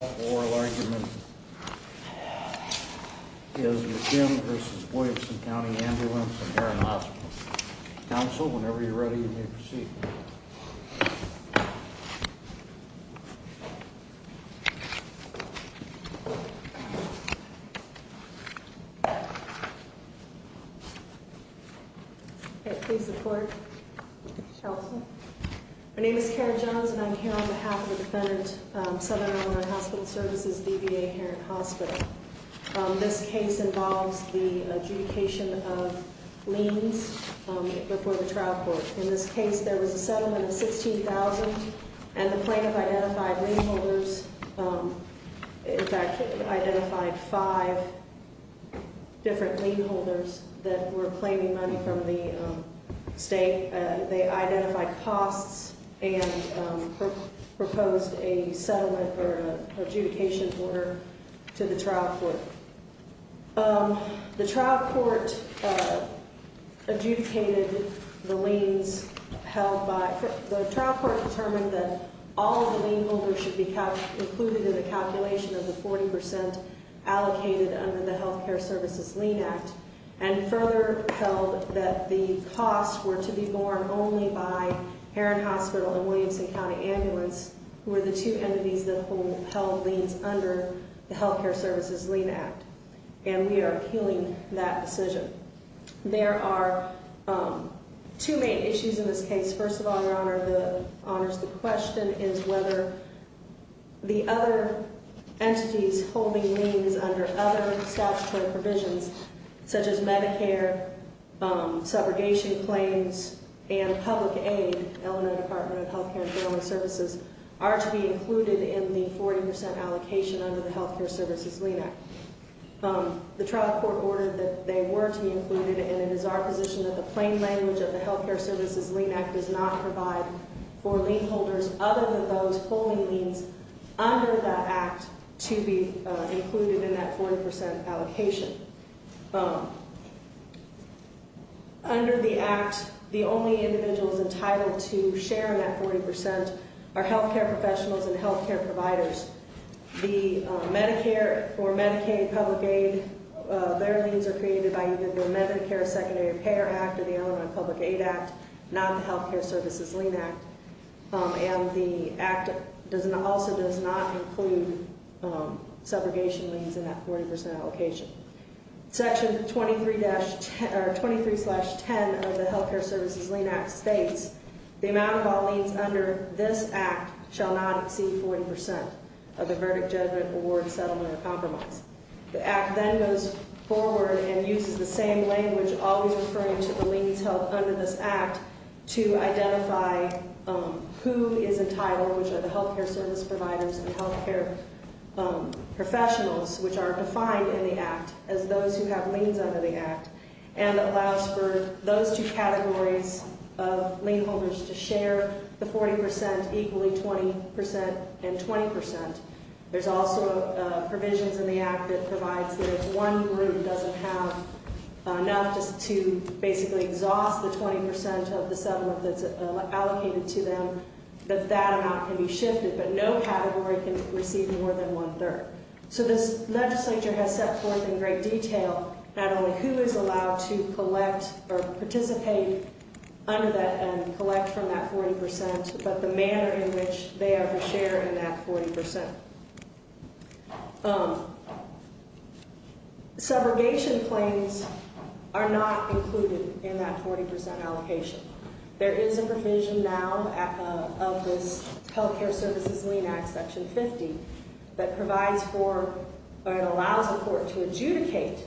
The oral argument is McKim v. Williamson County Ambulance and Heron Hospital. Counsel, whenever you're ready, you may proceed. Okay, please report. Counsel. My name is Karen Johns and I'm here on behalf of the defendant, Southern Illinois Hospital Services, DVA Heron Hospital. This case involves the adjudication of liens before the trial court. In this case, there was a settlement of $16,000 and the plaintiff identified lien holders. In fact, he identified five different lien holders that were claiming money from the state. They identified costs and proposed a settlement or an adjudication order to the trial court. The trial court adjudicated the liens held by – the trial court determined that all of the lien holders should be included in the calculation of the 40% allocated under the Health Care Services Lien Act and further held that the costs were to be borne only by Heron Hospital and Williamson County Ambulance, who were the two entities that held liens under the Health Care Services Lien Act. And we are appealing that decision. There are two main issues in this case. First of all, Your Honor, the question is whether the other entities holding liens under other statutory provisions, such as Medicare, subrogation claims, and public aid, Illinois Department of Health Care and Family Services, are to be included in the 40% allocation under the Health Care Services Lien Act. The trial court ordered that they were to be included, and it is our position that the plain language of the Health Care Services Lien Act does not provide for lien holders other than those holding liens under that act to be included in that 40% allocation. Under the act, the only individuals entitled to share in that 40% are health care professionals and health care providers. The Medicare for Medicaid public aid, their liens are created by either the Medicare Secondary Payer Act or the Illinois Public Aid Act, not the Health Care Services Lien Act. And the act also does not include subrogation liens in that 40% allocation. Section 23-10 of the Health Care Services Lien Act states, the amount of all liens under this act shall not exceed 40% of the verdict, judgment, award, settlement, or compromise. The act then goes forward and uses the same language always referring to the liens held under this act to identify who is entitled, which are the health care service providers and health care professionals, which are defined in the act as those who have liens under the act, and allows for those two categories of lien holders to share the 40%, equally 20%, and 20%. There's also provisions in the act that provides that if one group doesn't have enough just to basically exhaust the 20% of the settlement that's allocated to them, that that amount can be shifted, but no category can receive more than one-third. So this legislature has set forth in great detail not only who is allowed to collect or participate under that and collect from that 40%, but the manner in which they are to share in that 40%. Subrogation claims are not included in that 40% allocation. There is a provision now of this Health Care Services Lien Act, Section 50, that provides for or allows the court to adjudicate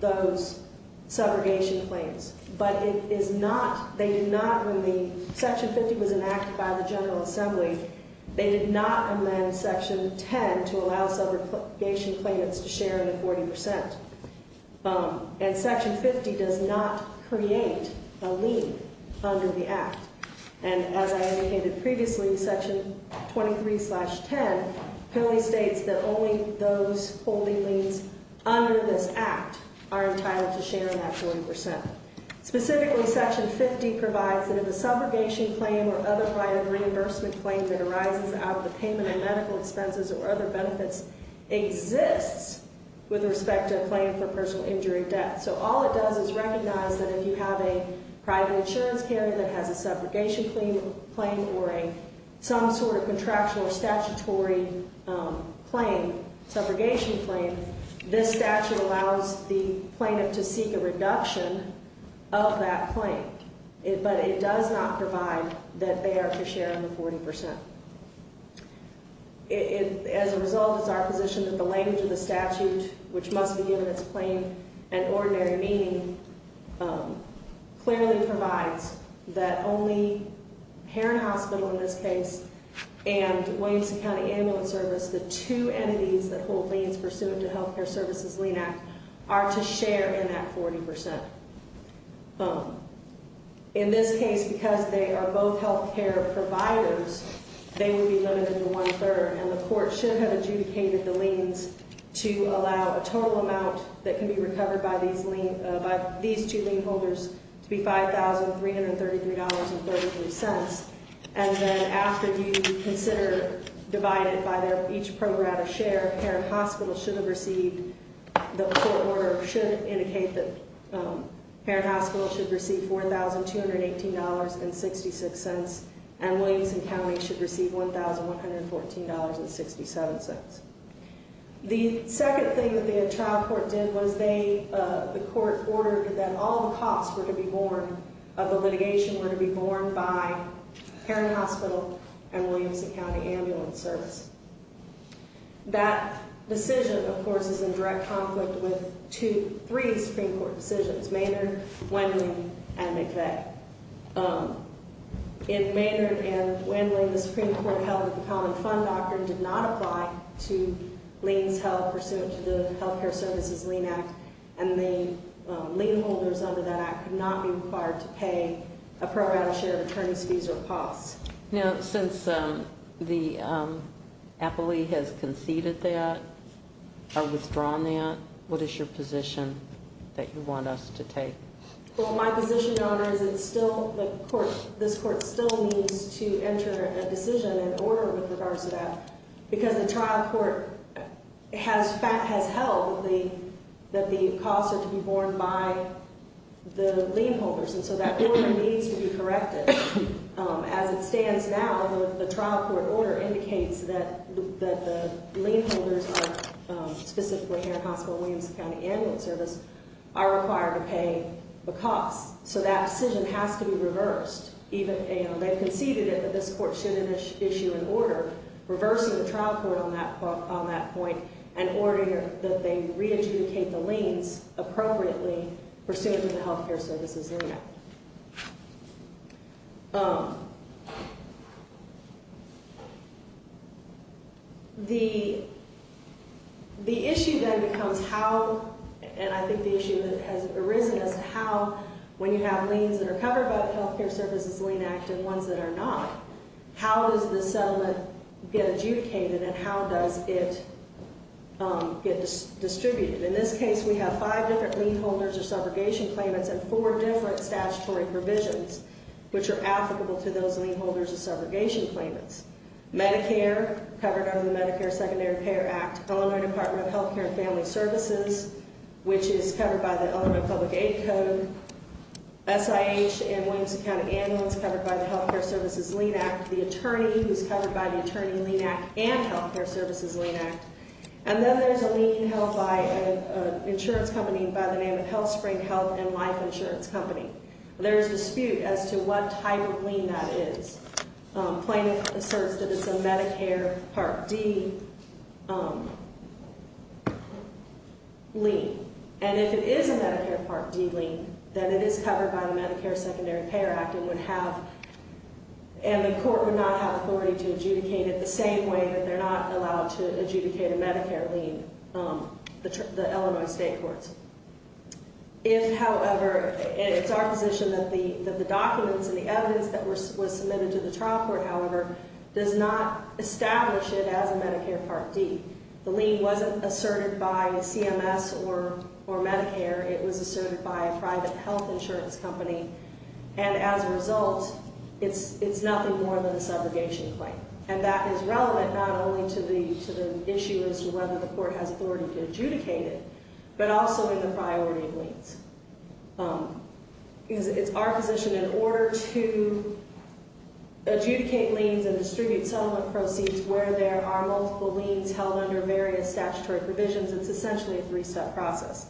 those subrogation claims. But it is not, they do not, when the Section 50 was enacted by the General Assembly, they did not amend Section 10 to allow subrogation claimants to share in the 40%. And Section 50 does not create a lien under the act. And as I indicated previously, Section 23-10 clearly states that only those holding liens under this act are entitled to share in that 40%. Specifically, Section 50 provides that if a subrogation claim or other kind of reimbursement claim that arises out of the payment of medical expenses or other benefits exists with respect to a claim for personal injury debt. So all it does is recognize that if you have a private insurance carrier that has a subrogation claim or some sort of contractual statutory claim, subrogation claim, this statute allows the plaintiff to seek a reduction of that claim. But it does not provide that they are to share in the 40%. As a result, it's our position that the language of the statute, which must be given its plain and ordinary meaning, clearly provides that only Heron Hospital in this case and Williamson County Ambulance Service, the two entities that hold liens pursuant to In this case, because they are both health care providers, they would be limited to one-third. And the court should have adjudicated the liens to allow a total amount that can be recovered by these two lien holders to be $5,333.33. And then after you consider divided by each program of share, Heron Hospital should have received, $4,218.66, and Williamson County should receive $1,114.67. The second thing that the trial court did was they, the court ordered that all the costs were to be borne of the litigation were to be borne by Heron Hospital and Williamson County Ambulance Service. That decision, of course, is in direct conflict with two, three Supreme Court decisions, Maynard, Wendland, and McVeigh. In Maynard and Wendland, the Supreme Court held that the common fund doctrine did not apply to liens held pursuant to the Health Care Services Lien Act, and the lien holders under that act could not be required to pay a program share of attorney's fees or costs. Now, since the appellee has conceded that or withdrawn that, what is your position that you want us to take? Well, my position, Your Honor, is it still, the court, this court still needs to enter a decision in order with regards to that because the trial court has held that the costs are to be borne by the lien holders, and so that order needs to be corrected. As it stands now, the trial court order indicates that the lien holders, specifically Heron Hospital and Williamson County Ambulance Service, are required to pay the costs. So that decision has to be reversed. They've conceded it, but this court should issue an order reversing the trial court on that point in order that they re-adjudicate the liens appropriately pursuant to the Health Care Services Lien Act. The issue then becomes how, and I think the issue that has arisen is how, when you have liens that are covered by the Health Care Services Lien Act and ones that are not, how does the settlement get adjudicated and how does it get distributed? In this case, we have five different lien holders of subrogation claimants and four different statutory provisions which are applicable to those lien holders of subrogation claimants. Medicare, covered under the Medicare Secondary Care Act, Illinois Department of Health Care and Family Services, which is covered by the Illinois Public Aid Code, SIH and Williamson County Ambulance, covered by the Health Care Services Lien Act, the attorney who's covered by the Attorney Lien Act and the Health Care Services Lien Act, and then there's a lien held by an insurance company by the name of HealthSpring Health and Life Insurance Company. There's a dispute as to what type of lien that is. A claimant asserts that it's a Medicare Part D lien, and if it is a Medicare Part D lien, then it is covered by the Medicare Secondary Care Act and would have, and the court would not have authority to adjudicate it the same way that they're not allowed to adjudicate a Medicare lien, the Illinois State Courts. If, however, it's our position that the documents and the evidence that was submitted to the trial court, however, does not establish it as a Medicare Part D. The lien wasn't asserted by a CMS or Medicare. It was asserted by a private health insurance company, and as a result, it's nothing more than a subrogation claim. And that is relevant not only to the issue as to whether the court has authority to adjudicate it, but also in the priority of liens. It's our position in order to adjudicate liens and distribute settlement proceeds where there are multiple liens held under various statutory provisions, it's essentially a three-step process.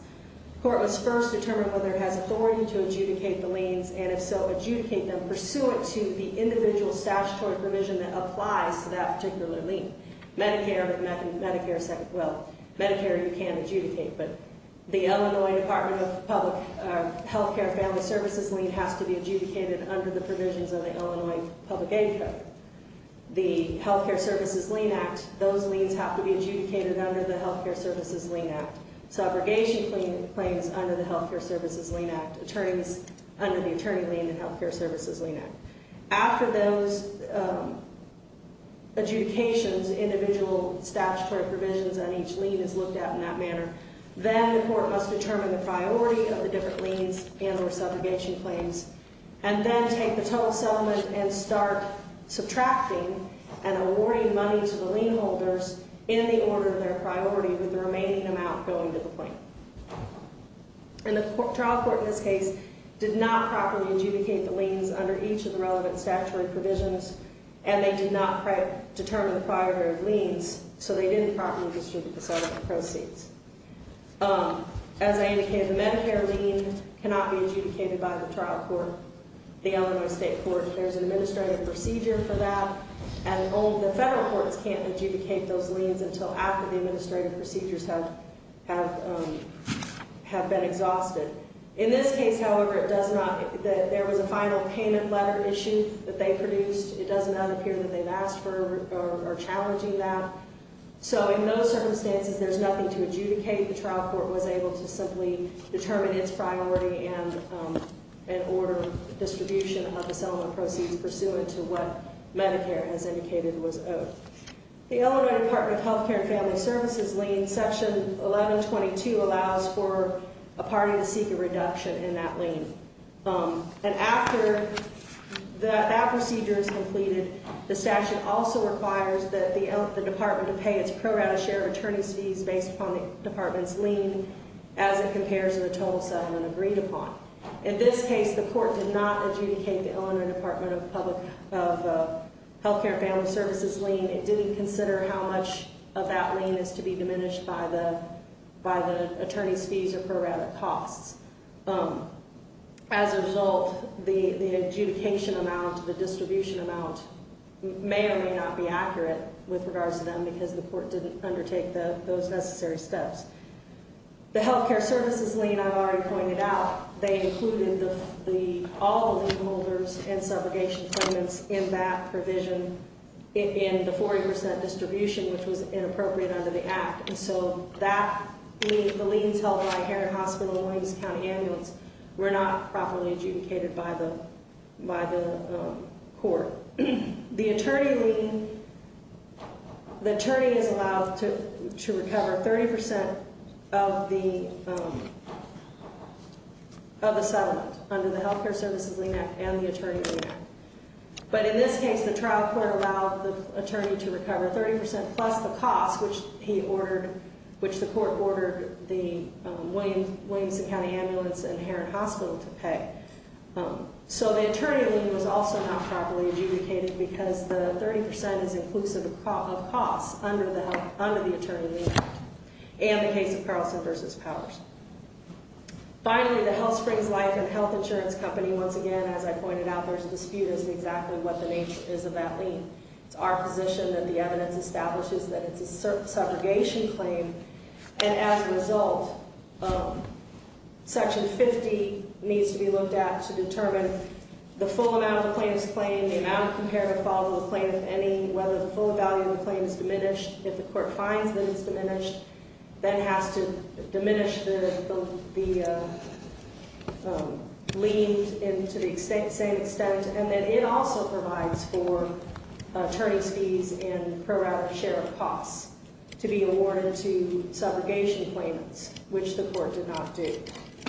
The court must first determine whether it has authority to adjudicate the liens, and if so, adjudicate them pursuant to the individual statutory provision that applies to that particular lien. Medicare, you can adjudicate, but the Illinois Department of Public Health Care Family Services lien has to be adjudicated under the provisions of the Illinois Public Aid Code. The Health Care Services Lien Act, those liens have to be adjudicated under the Health Care Services Lien Act. Subrogation claims under the Health Care Services Lien Act. Attorneys under the Attorney Lien and Health Care Services Lien Act. After those adjudications, individual statutory provisions on each lien is looked at in that manner, then the court must determine the priority of the lien holders in the order of their priority with the remaining amount going to the plaintiff. And the trial court in this case did not properly adjudicate the liens under each of the relevant statutory provisions, and they did not determine the priority of liens, so they didn't properly distribute the settlement proceeds. As I indicated, the Medicare lien cannot be adjudicated by the trial court, the Illinois State Court. There's an administrative procedure for that, and only the federal courts can't adjudicate those liens until after the administrative procedures have been exhausted. In this case, however, it does not, there was a final payment letter issue that they produced. It does not appear that they've asked for or are challenging that. So in those circumstances, there's nothing to adjudicate. The trial court was able to simply determine its priority and order distribution of the settlement proceeds pursuant to what Medicare, as indicated, was owed. The Illinois Department of Health Care and Family Services lien, Section 1122, allows for a party to seek a reduction in that lien. And after that procedure is completed, the statute also requires the department to pay its pro rata share of attorney's fees based upon the department's lien as it compares to the total settlement agreed upon. In this case, the court did not adjudicate the Illinois Department of Health Care and Family Services lien. It didn't consider how much of that lien is to be diminished by the attorney's fees or pro rata costs. As a result, the adjudication amount, the distribution amount may or may not be accurate with regards to them because the court didn't undertake those necessary steps. The health care services lien, I've already pointed out, they included all the lien holders and subrogation payments in that provision in the 40% distribution, which was inappropriate under the act. And so that lien, the liens held by Heron Hospital and Williams County Ambulance were not properly adjudicated by the court. The attorney lien, the attorney is allowed to recover 30% of the settlement under the health care services lien act and the attorney lien act. But in this case, the trial court allowed the attorney to recover 30% plus the cost, which he ordered, which the court ordered the Williams County Ambulance and Heron Hospital to pay. So the attorney lien was also not properly adjudicated because the 30% is inclusive of costs under the attorney lien act and the case of Carlson v. Powers. Finally, the Health Springs Life and Health Insurance Company, once again, as I pointed out, there's a dispute as to exactly what the nature is of that lien. It's our position that the evidence establishes that it's a subrogation claim. And as a result, Section 50 needs to be looked at to determine the full amount of the plaintiff's claim, the amount of comparative fault of the plaintiff, any, whether the full value of the claim is diminished. If the court finds that it's diminished, then it has to diminish the lien to the same extent. And then it also provides for attorney's fees and prorated share of costs to be awarded to subrogation claimants, which the court did not do.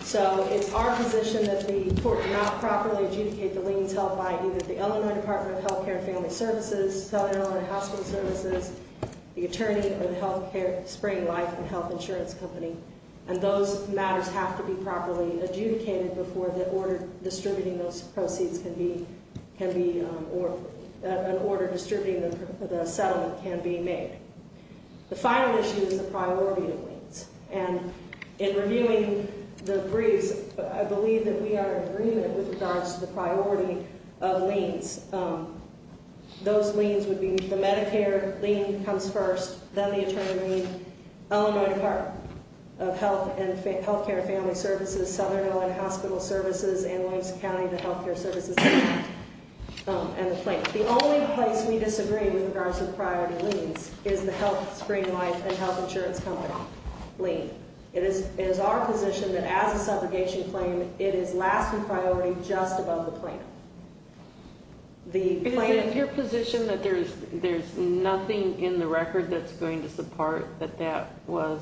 So it's our position that the court did not properly adjudicate the liens held by either the Illinois Department of Health Care and Family Services, Southern Illinois Hospital Services, the attorney, or the Health Care Spring Life and Health Insurance Company. And those matters have to be properly adjudicated before the order distributing those proceeds can be, an order distributing the settlement can be made. The final issue is the priority of liens. And in reviewing the briefs, I believe that we are in agreement with regards to the priority of liens. Those liens would be the Medicare lien comes first, then the attorney, Illinois Department of Health and Health Care and Family Services, Southern Illinois Hospital Services, and Williams County, the Health Care Services Department, and the plaintiff. The only place we disagree with regards to the priority of liens is the Health Spring Life and Health Insurance Company lien. It is our position that as a subrogation claim, it is last in priority just above the plaintiff. Is it in your position that there is nothing in the record that is going to support that that was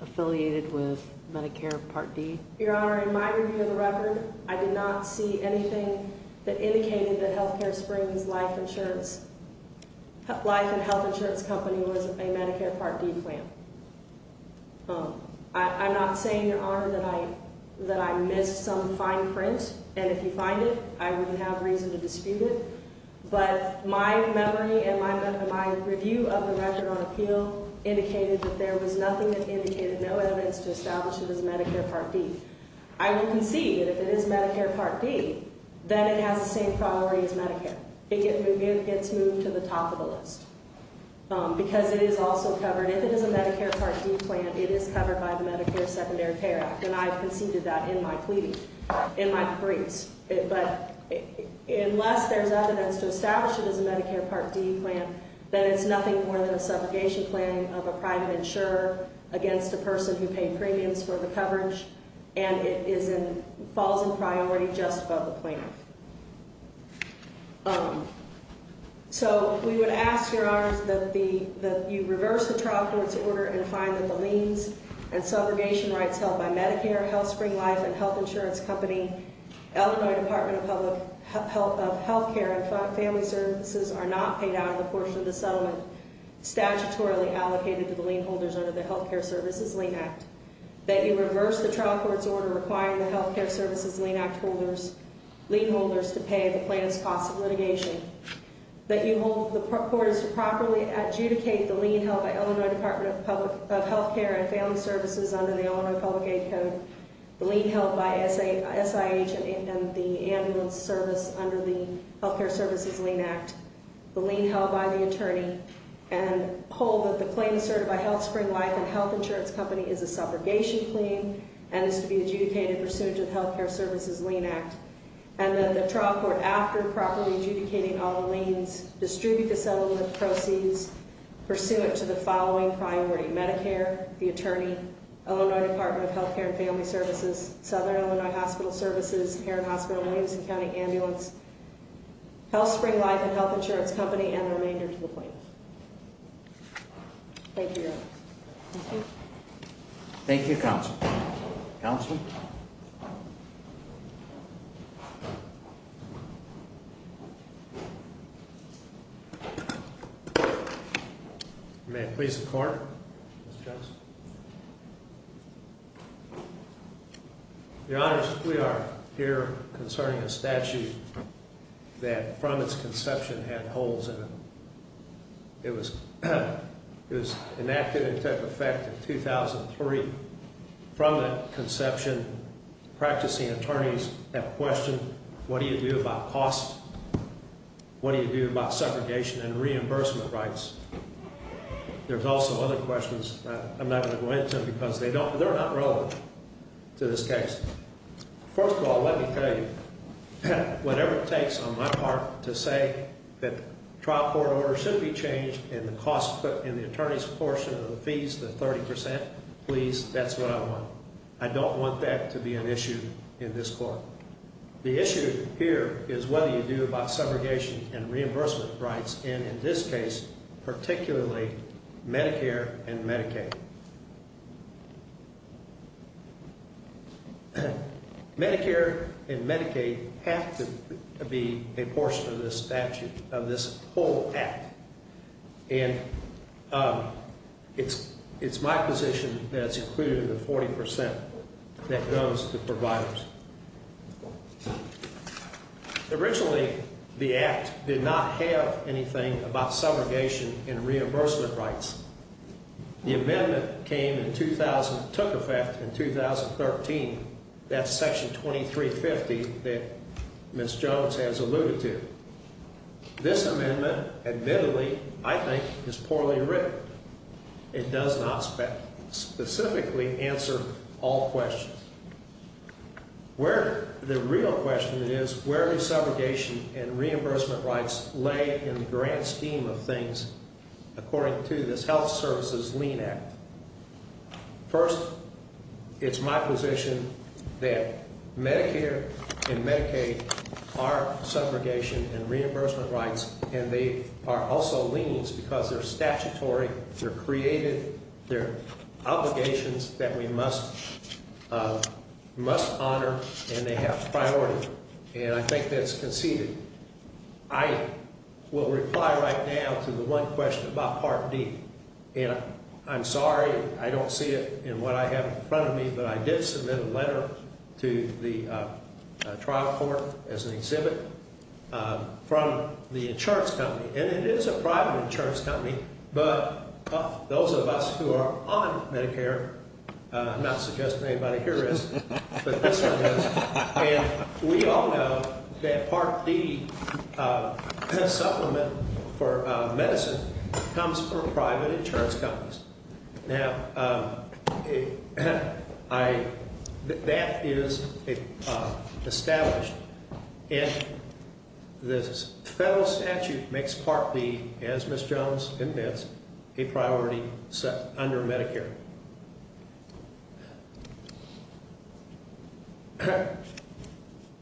affiliated with Medicare Part D? Your Honor, in my review of the record, I did not see anything that indicated that Health Care Springs Life Insurance Life and Health Insurance Company was a Medicare Part D claim. I'm not saying, Your Honor, that I missed some fine print, and if you find it, I would have reason to dispute it. But my memory and my review of the record on appeal indicated that there was nothing that indicated no evidence to establish it as Medicare Part D. I will concede that if it is Medicare Part D, then it has the same priority as Medicare. It gets moved to the top of the list because it is also covered. If it is a Medicare Part D claim, it is covered by the Medicare Secondary Care Act, and I've conceded that in my plea, in my briefs. But unless there's evidence to establish it as a Medicare Part D claim, then it's nothing more than a subrogation claim of a private insurer against a person who paid premiums for the coverage, and it falls in priority just above the plaintiff. So we would ask, Your Honor, that you reverse the trial court's order and find that the liens and subrogation rights held by Medicare, Health Spring Life, and Health Insurance Company, Illinois Department of Health Care and Family Services are not paid out of the portion of the settlement statutorily allocated to the lien holders under the Health Care Services Lien Act, that you reverse the trial court's order requiring the Health Care Services Lien Act holders, lien holders, to pay the plaintiff's cost of litigation, that you hold the court as to properly adjudicate the lien held by Illinois Department of Health Care and Family Services under the Illinois Public Aid Code, the lien held by SIH and the ambulance service under the Health Care Services Lien Act, the lien held by the attorney, and hold that the claim asserted by Health Spring Life and Health Insurance Company is a subrogation claim and is to be adjudicated pursuant to the Health Care Services Lien Act, and that the trial court, after properly adjudicating all the liens, distribute the settlement of proceeds pursuant to the following priority, Medicare, the attorney, Illinois Department of Health Care and Family Services, Southern Illinois Hospital Services, Heron Hospital, Williamson County Ambulance, Health Spring Life and Health Insurance Company, and the remainder to the plaintiff. Thank you, Your Honor. Thank you. Thank you, Counsel. Counsel? May it please the Court, Mr. Johnson? Your Honors, we are here concerning a statute that, from its conception, had holes in it. It was enacted and took effect in 2003. From that conception, practicing attorneys have questioned, what do you do about costs? What do you do about segregation and reimbursement rights? There's also other questions that I'm not going to go into because they're not relevant to this case. First of all, let me tell you, whatever it takes on my part to say that that's what I want. I don't want that to be an issue in this court. The issue here is whether you do about segregation and reimbursement rights, and in this case, particularly Medicare and Medicaid. Medicare and Medicaid have to be a portion of this statute, a portion of this whole act. It's my position that it's included in the 40% that goes to providers. Originally, the act did not have anything about segregation and reimbursement rights. The amendment took effect in 2013. That's Section 2350 that Ms. Jones has alluded to. This amendment, admittedly, I think, is poorly written. It does not specifically answer all questions. The real question is where does segregation and reimbursement rights lay in the grand scheme of things according to this Health Services Lean Act? First, it's my position that Medicare and Medicaid are segregation and reimbursement rights, and they are also leans because they're statutory, they're created, they're obligations that we must honor, and they have priority, and I think that's conceded. I will reply right now to the one question about Part D, and I'm sorry I don't see it in what I have in front of me, but I did submit a letter to the trial court as an exhibit from the insurance company, and it is a private insurance company, but those of us who are on Medicare, I'm not suggesting anybody here is, but this one is, and we all know that Part D supplement for medicine comes from private insurance companies. Now, that is established and this federal statute makes Part D, as Ms. Jones admits, a priority under Medicare.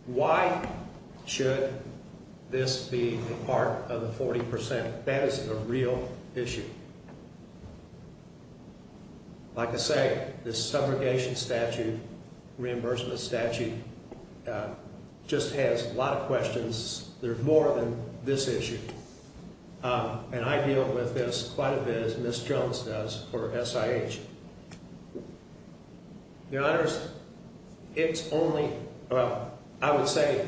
Why should this be part of the 40%? That is a real issue. Like I say, this subrogation statute, reimbursement statute, just has a lot of questions. There's more than this issue, and I deal with this quite a bit as Ms. Jones does for SIH. The honors, it's only, well, I would say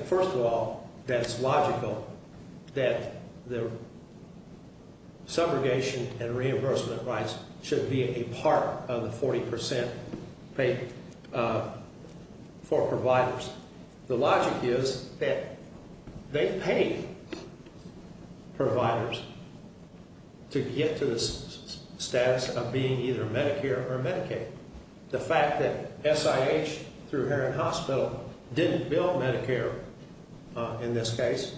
reimbursement rights should be a part of the 40% paid for providers. The logic is that they pay providers to get to the status of being either Medicare or Medicaid. The fact that SIH through Herron Hospital didn't bill Medicare in this case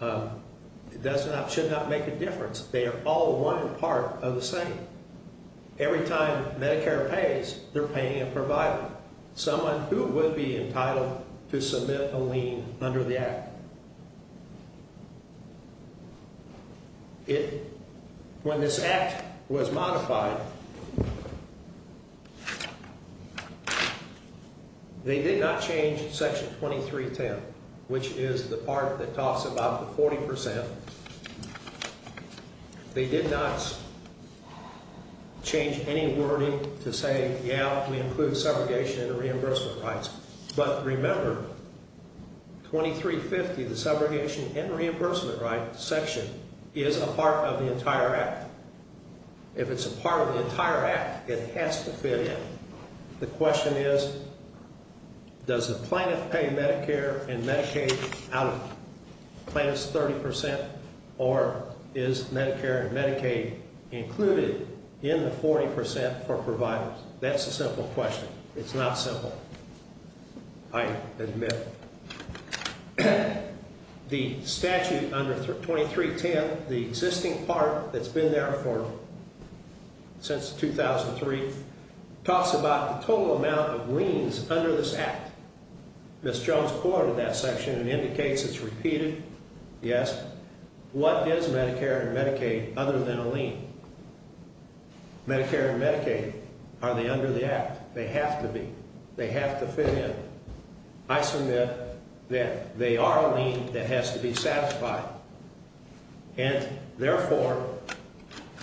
should not make a difference. They are all one part of the same. Every time Medicare pays, they're paying a provider, someone who would be entitled to submit a lien under the Act. When this Act was modified, they did not change Section 2310, which is the part that talks about the 40%. They did not change any wording to say, yeah, we include subrogation and reimbursement rights. But remember, 2350, the entire Act, it has to fit in. The question is, does the plaintiff pay Medicare and Medicaid out of plaintiff's 30% or is Medicare and Medicaid included in the 40% for providers? That's a simple question. It's not simple, I admit. The statute under 2310, the existing part that's been there for since 2003, talks about the total amount of liens under this Act. Ms. Jones quoted that section and indicates it's repeated. Yes. What is Medicare and Medicaid other than a lien? Medicare and Medicaid, are they under the Act? They have to be. They have to fit in. I submit that they are a lien that has to be satisfied. And therefore,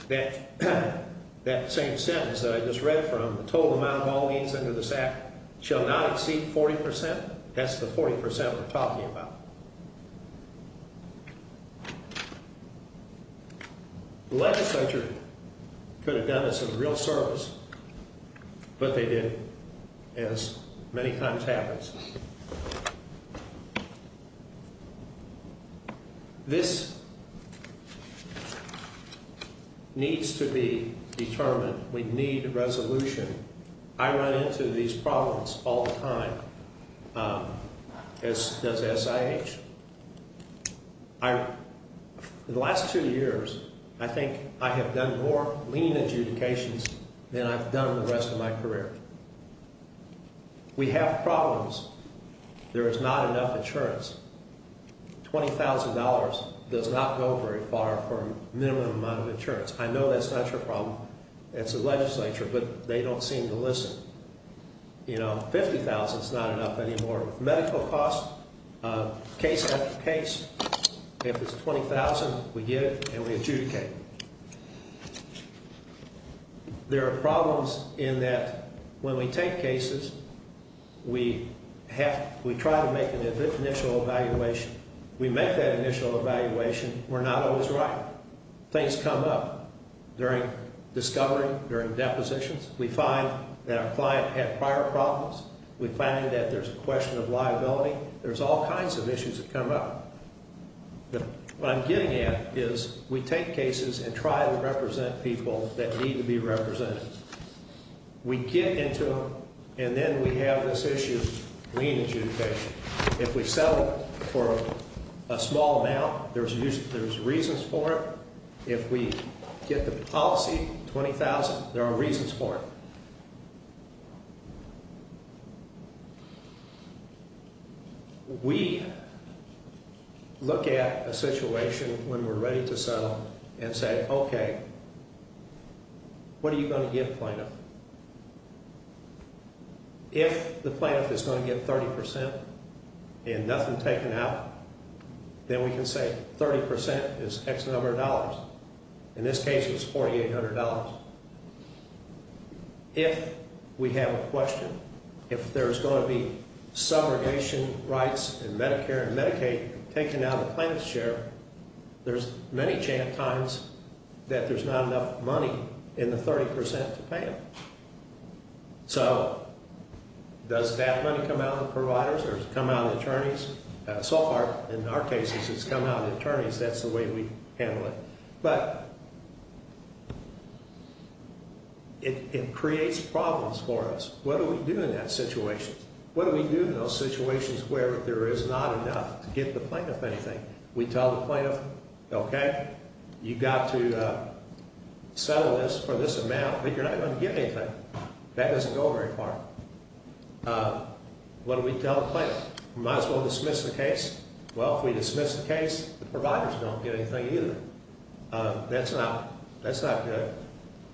that same sentence that I just read from, the total amount of all liens under this Act shall not exceed 40%. That's the 40% that we're talking about. The legislature could have done us a real service, but they didn't, as many times happens. This needs to be determined. We need a resolution. I run into these problems all the time as does SIH. In the last two years, I think I have done more lien adjudications than I've done in the rest of my career. We have problems. There is not enough insurance. $20,000 does not go very far for a minimum amount of insurance. I know that's not your problem. It's the legislature, but they don't seem to listen. $50,000 is not enough anymore. Medical costs, case after case, if it's $20,000, we give it and we adjudicate. There are problems in that when we take cases, we try to make an initial evaluation. We make that initial evaluation, we're not always right. Things come up during discovery, during depositions. We find that our client had prior problems. We find that there's a question of liability. There's all kinds of issues that come up. What I'm getting at is we take cases and try to represent people that need to be represented. We get into them and then we have this issue of lien adjudication. If we settle for a small amount, there's reasons for it. If we get the policy, $20,000, there are reasons for it. We look at a situation when we're ready to settle and say, okay, what are you going to give the plaintiff? If the plaintiff is going to give 30% and nothing taken out, then we can say 30% is X number of dollars. In this case, it was $4,800. If we have a question, if there's going to be subrogation rights and Medicare and Medicaid taken out of the plaintiff's share, there's many times that there's not enough money in the 30% to pay them. Does that money come out of the providers or does it come out of the attorneys? So far, in our cases, it's come out of the attorneys. That's the way we handle it. It creates problems for us. What do we do in that situation? What do we do in those situations where there is not enough to give the plaintiff anything? We tell the plaintiff, okay, you've got to settle this for this amount, but you're not going to get anything. That doesn't go very far. We might as well dismiss the case. Well, if we dismiss the case, the providers don't get anything either. That's not good.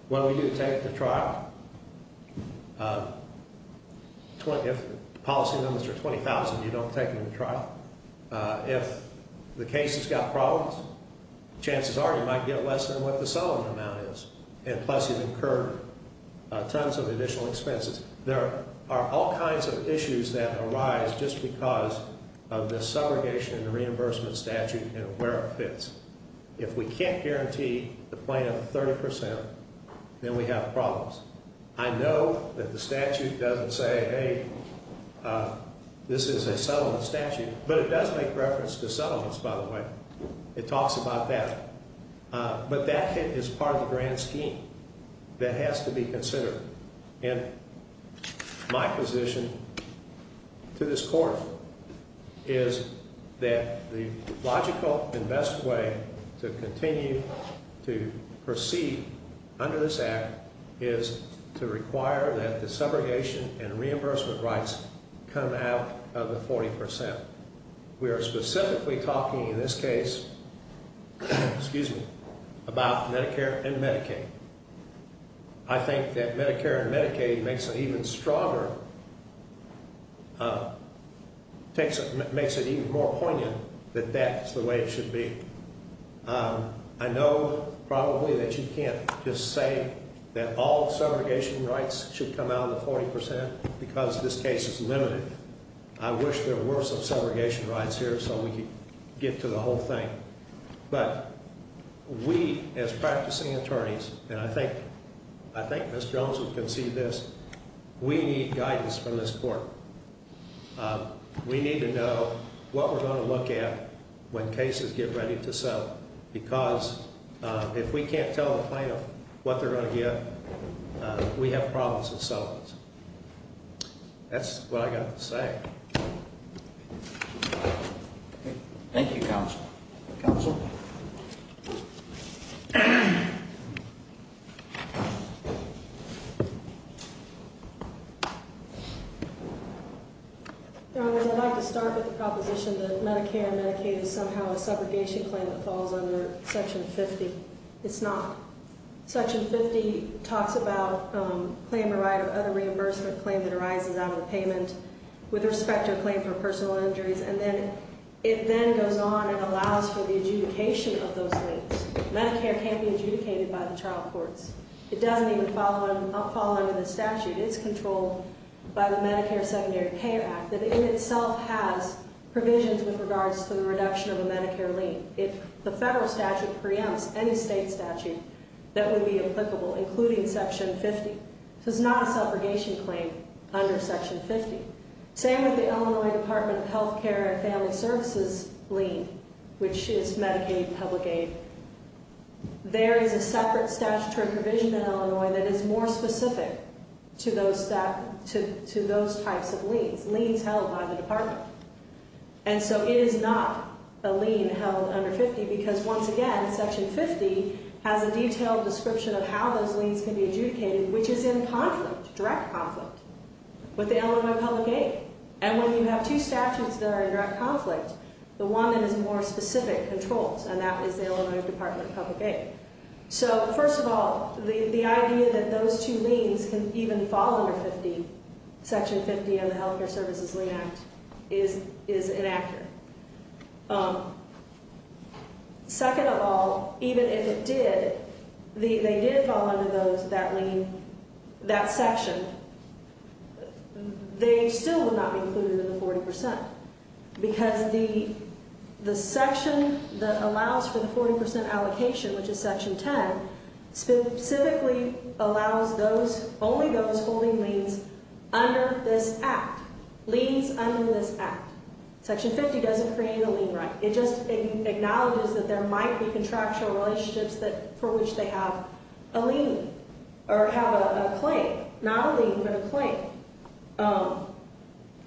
What do we do to take the trial? If the policy limits are $20,000, you don't take them to trial. If the case has got problems, chances are you might get less than what the settlement amount is, and plus you've incurred tons of additional expenses. There are all kinds of issues that arise just because of the subrogation and the reimbursement statute and where it fits. If we can't guarantee the plaintiff 30%, then we have problems. I know that the statute doesn't say, hey, this is a settlement statute, but it does make reference to settlements, by the way. It talks about that. But that is part of the grand scheme that has to be considered. And my position to this Court is that the logical and best way to continue to proceed under this Act is to require that the subrogation and reimbursement rights come out of the 40%. We are specifically talking in this case about Medicare and Medicaid. I think that Medicare and Medicaid makes it even stronger, makes it even more poignant that that's the way it should be. I know probably that you can't just say that all subrogation rights should come out of the 40% because this case is limited. I wish there were some subrogation rights here so we could get to the whole thing. But we, as practicing attorneys, and I think Ms. Jones will concede this, we need guidance from this Court. We need to know what we're going to look at when cases get ready to settle because if we can't tell the plaintiff what they're going to get, we have problems in settlements. That's what I've got to say. Thank you, Counsel. Counsel? Your Honor, I'd like to start with the proposition that Medicare and Medicaid is somehow a subrogation claim that falls under Section 50. It's not. Section 50 talks about claim the right of other reimbursement claim that arises out of the payment. With respect to a claim for personal injuries, and then it then goes on and allows for the adjudication of those liens. Medicare can't be adjudicated by the trial courts. It doesn't even fall under the statute. It's controlled by the Medicare Secondary Care Act that in itself has provisions with regards to the reduction of a Medicare lien. The federal statute preempts any state statute that would be applicable, including Section 50. So it's not a subrogation claim under Section 50. Same with the Illinois Department of Health Care and Family Services lien, which is Medicaid and public aid. There is a separate statutory provision in Illinois that is more specific to those types of liens, liens held by the Department. And so it is not a lien held under 50 because once again, Section 50 has a detailed description of how those liens can be adjudicated, which is in conflict, direct conflict, with the Illinois public aid. And when you have two statutes that are in direct conflict, the one that is more specific controls, and that is the Illinois Department of Public Aid. So first of all, the idea that those two liens can even fall under 50, Section 50 and the Health Care Services Lien Act, is inaccurate. Second of all, even if it did, they did fall under those, that lien, that section, they still would not be included in the 40 percent. Because the section that allows for the 40 percent allocation, which is Section 10, specifically allows those, only those holding liens under this act, liens under this act. Section 50 doesn't create a lien right. It just acknowledges that there might be contractual relationships that, for which they have a lien, or have a claim, not a lien, but a claim.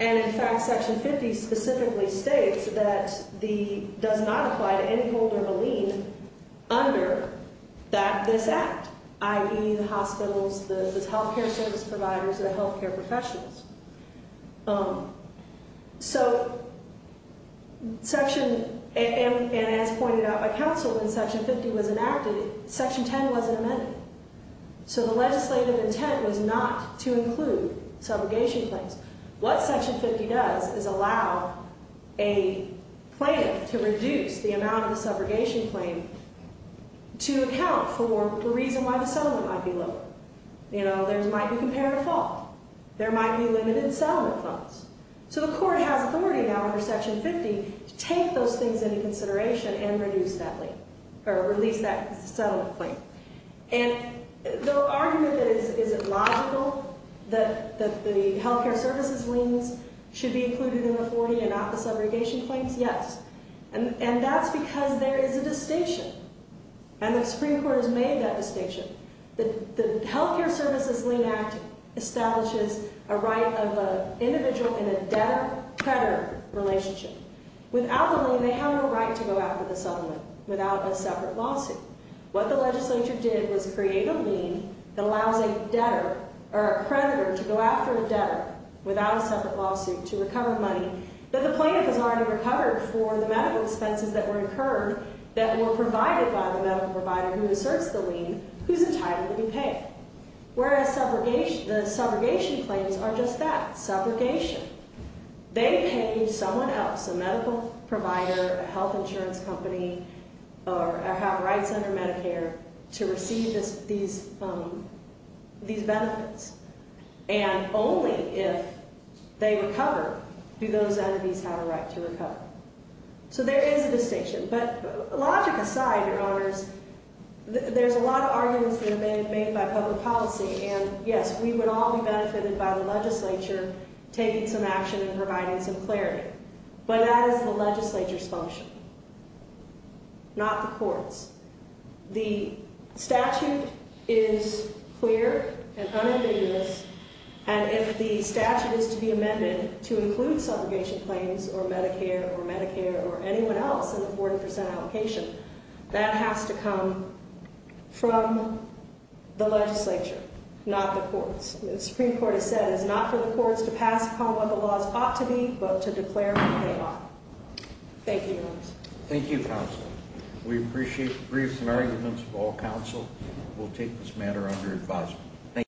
And in fact, Section 50 specifically states that the, does not apply to any holder of a lien under that, this act, i.e. the hospitals, the health care service providers, the health care professionals. So Section, and as pointed out by counsel, when Section 50 was enacted, Section 10 wasn't amended. So the legislative intent was not to include subrogation claims. What Section 50 does is allow a claim to reduce the amount of the subrogation claim to account for the reason why the settlement might be lower. You know, there might be comparative fault. There might be limited settlement funds. So the court has authority now under Section 50 to take those things into consideration and reduce that lien, or release that settlement claim. And the argument that is, is it logical that the health care services liens should be included in the 40 and not the subrogation claims, yes. And that's because there is a distinction, and the Supreme Court has made that distinction. The Health Care Services Lien Act establishes a right of an individual in a debtor-creditor relationship. Without the lien, they have no right to go after the settlement without a separate lawsuit. What the legislature did was create a lien that allows a debtor, or a creditor, to go after a debtor without a separate lawsuit to recover money that the plaintiff has already recovered for the medical expenses that were incurred, that were provided by the medical provider who asserts the lien, who's entitled to be paid. Whereas the subrogation claims are just that, subrogation. They pay someone else, a medical provider, a health insurance company, or have rights under Medicare to receive these benefits. And only if they recover do those entities have a right to recover. So there is a distinction, but logic aside, your honors, there's a lot of arguments that have been made by public policy. And yes, we would all be benefited by the legislature taking some action and providing some clarity. But that is the legislature's function, not the court's. The statute is clear and unambiguous. And if the statute is to be amended to include subrogation claims or Medicare or Medicare or anyone else in the 40% allocation, that has to come from the legislature, not the courts. The Supreme Court has said it's not for the courts to pass upon what the laws ought to be, but to declare what they are. Thank you, your honors. Thank you, counsel. We appreciate the briefs and arguments of all counsel. We'll take this matter under advisement. Thank you.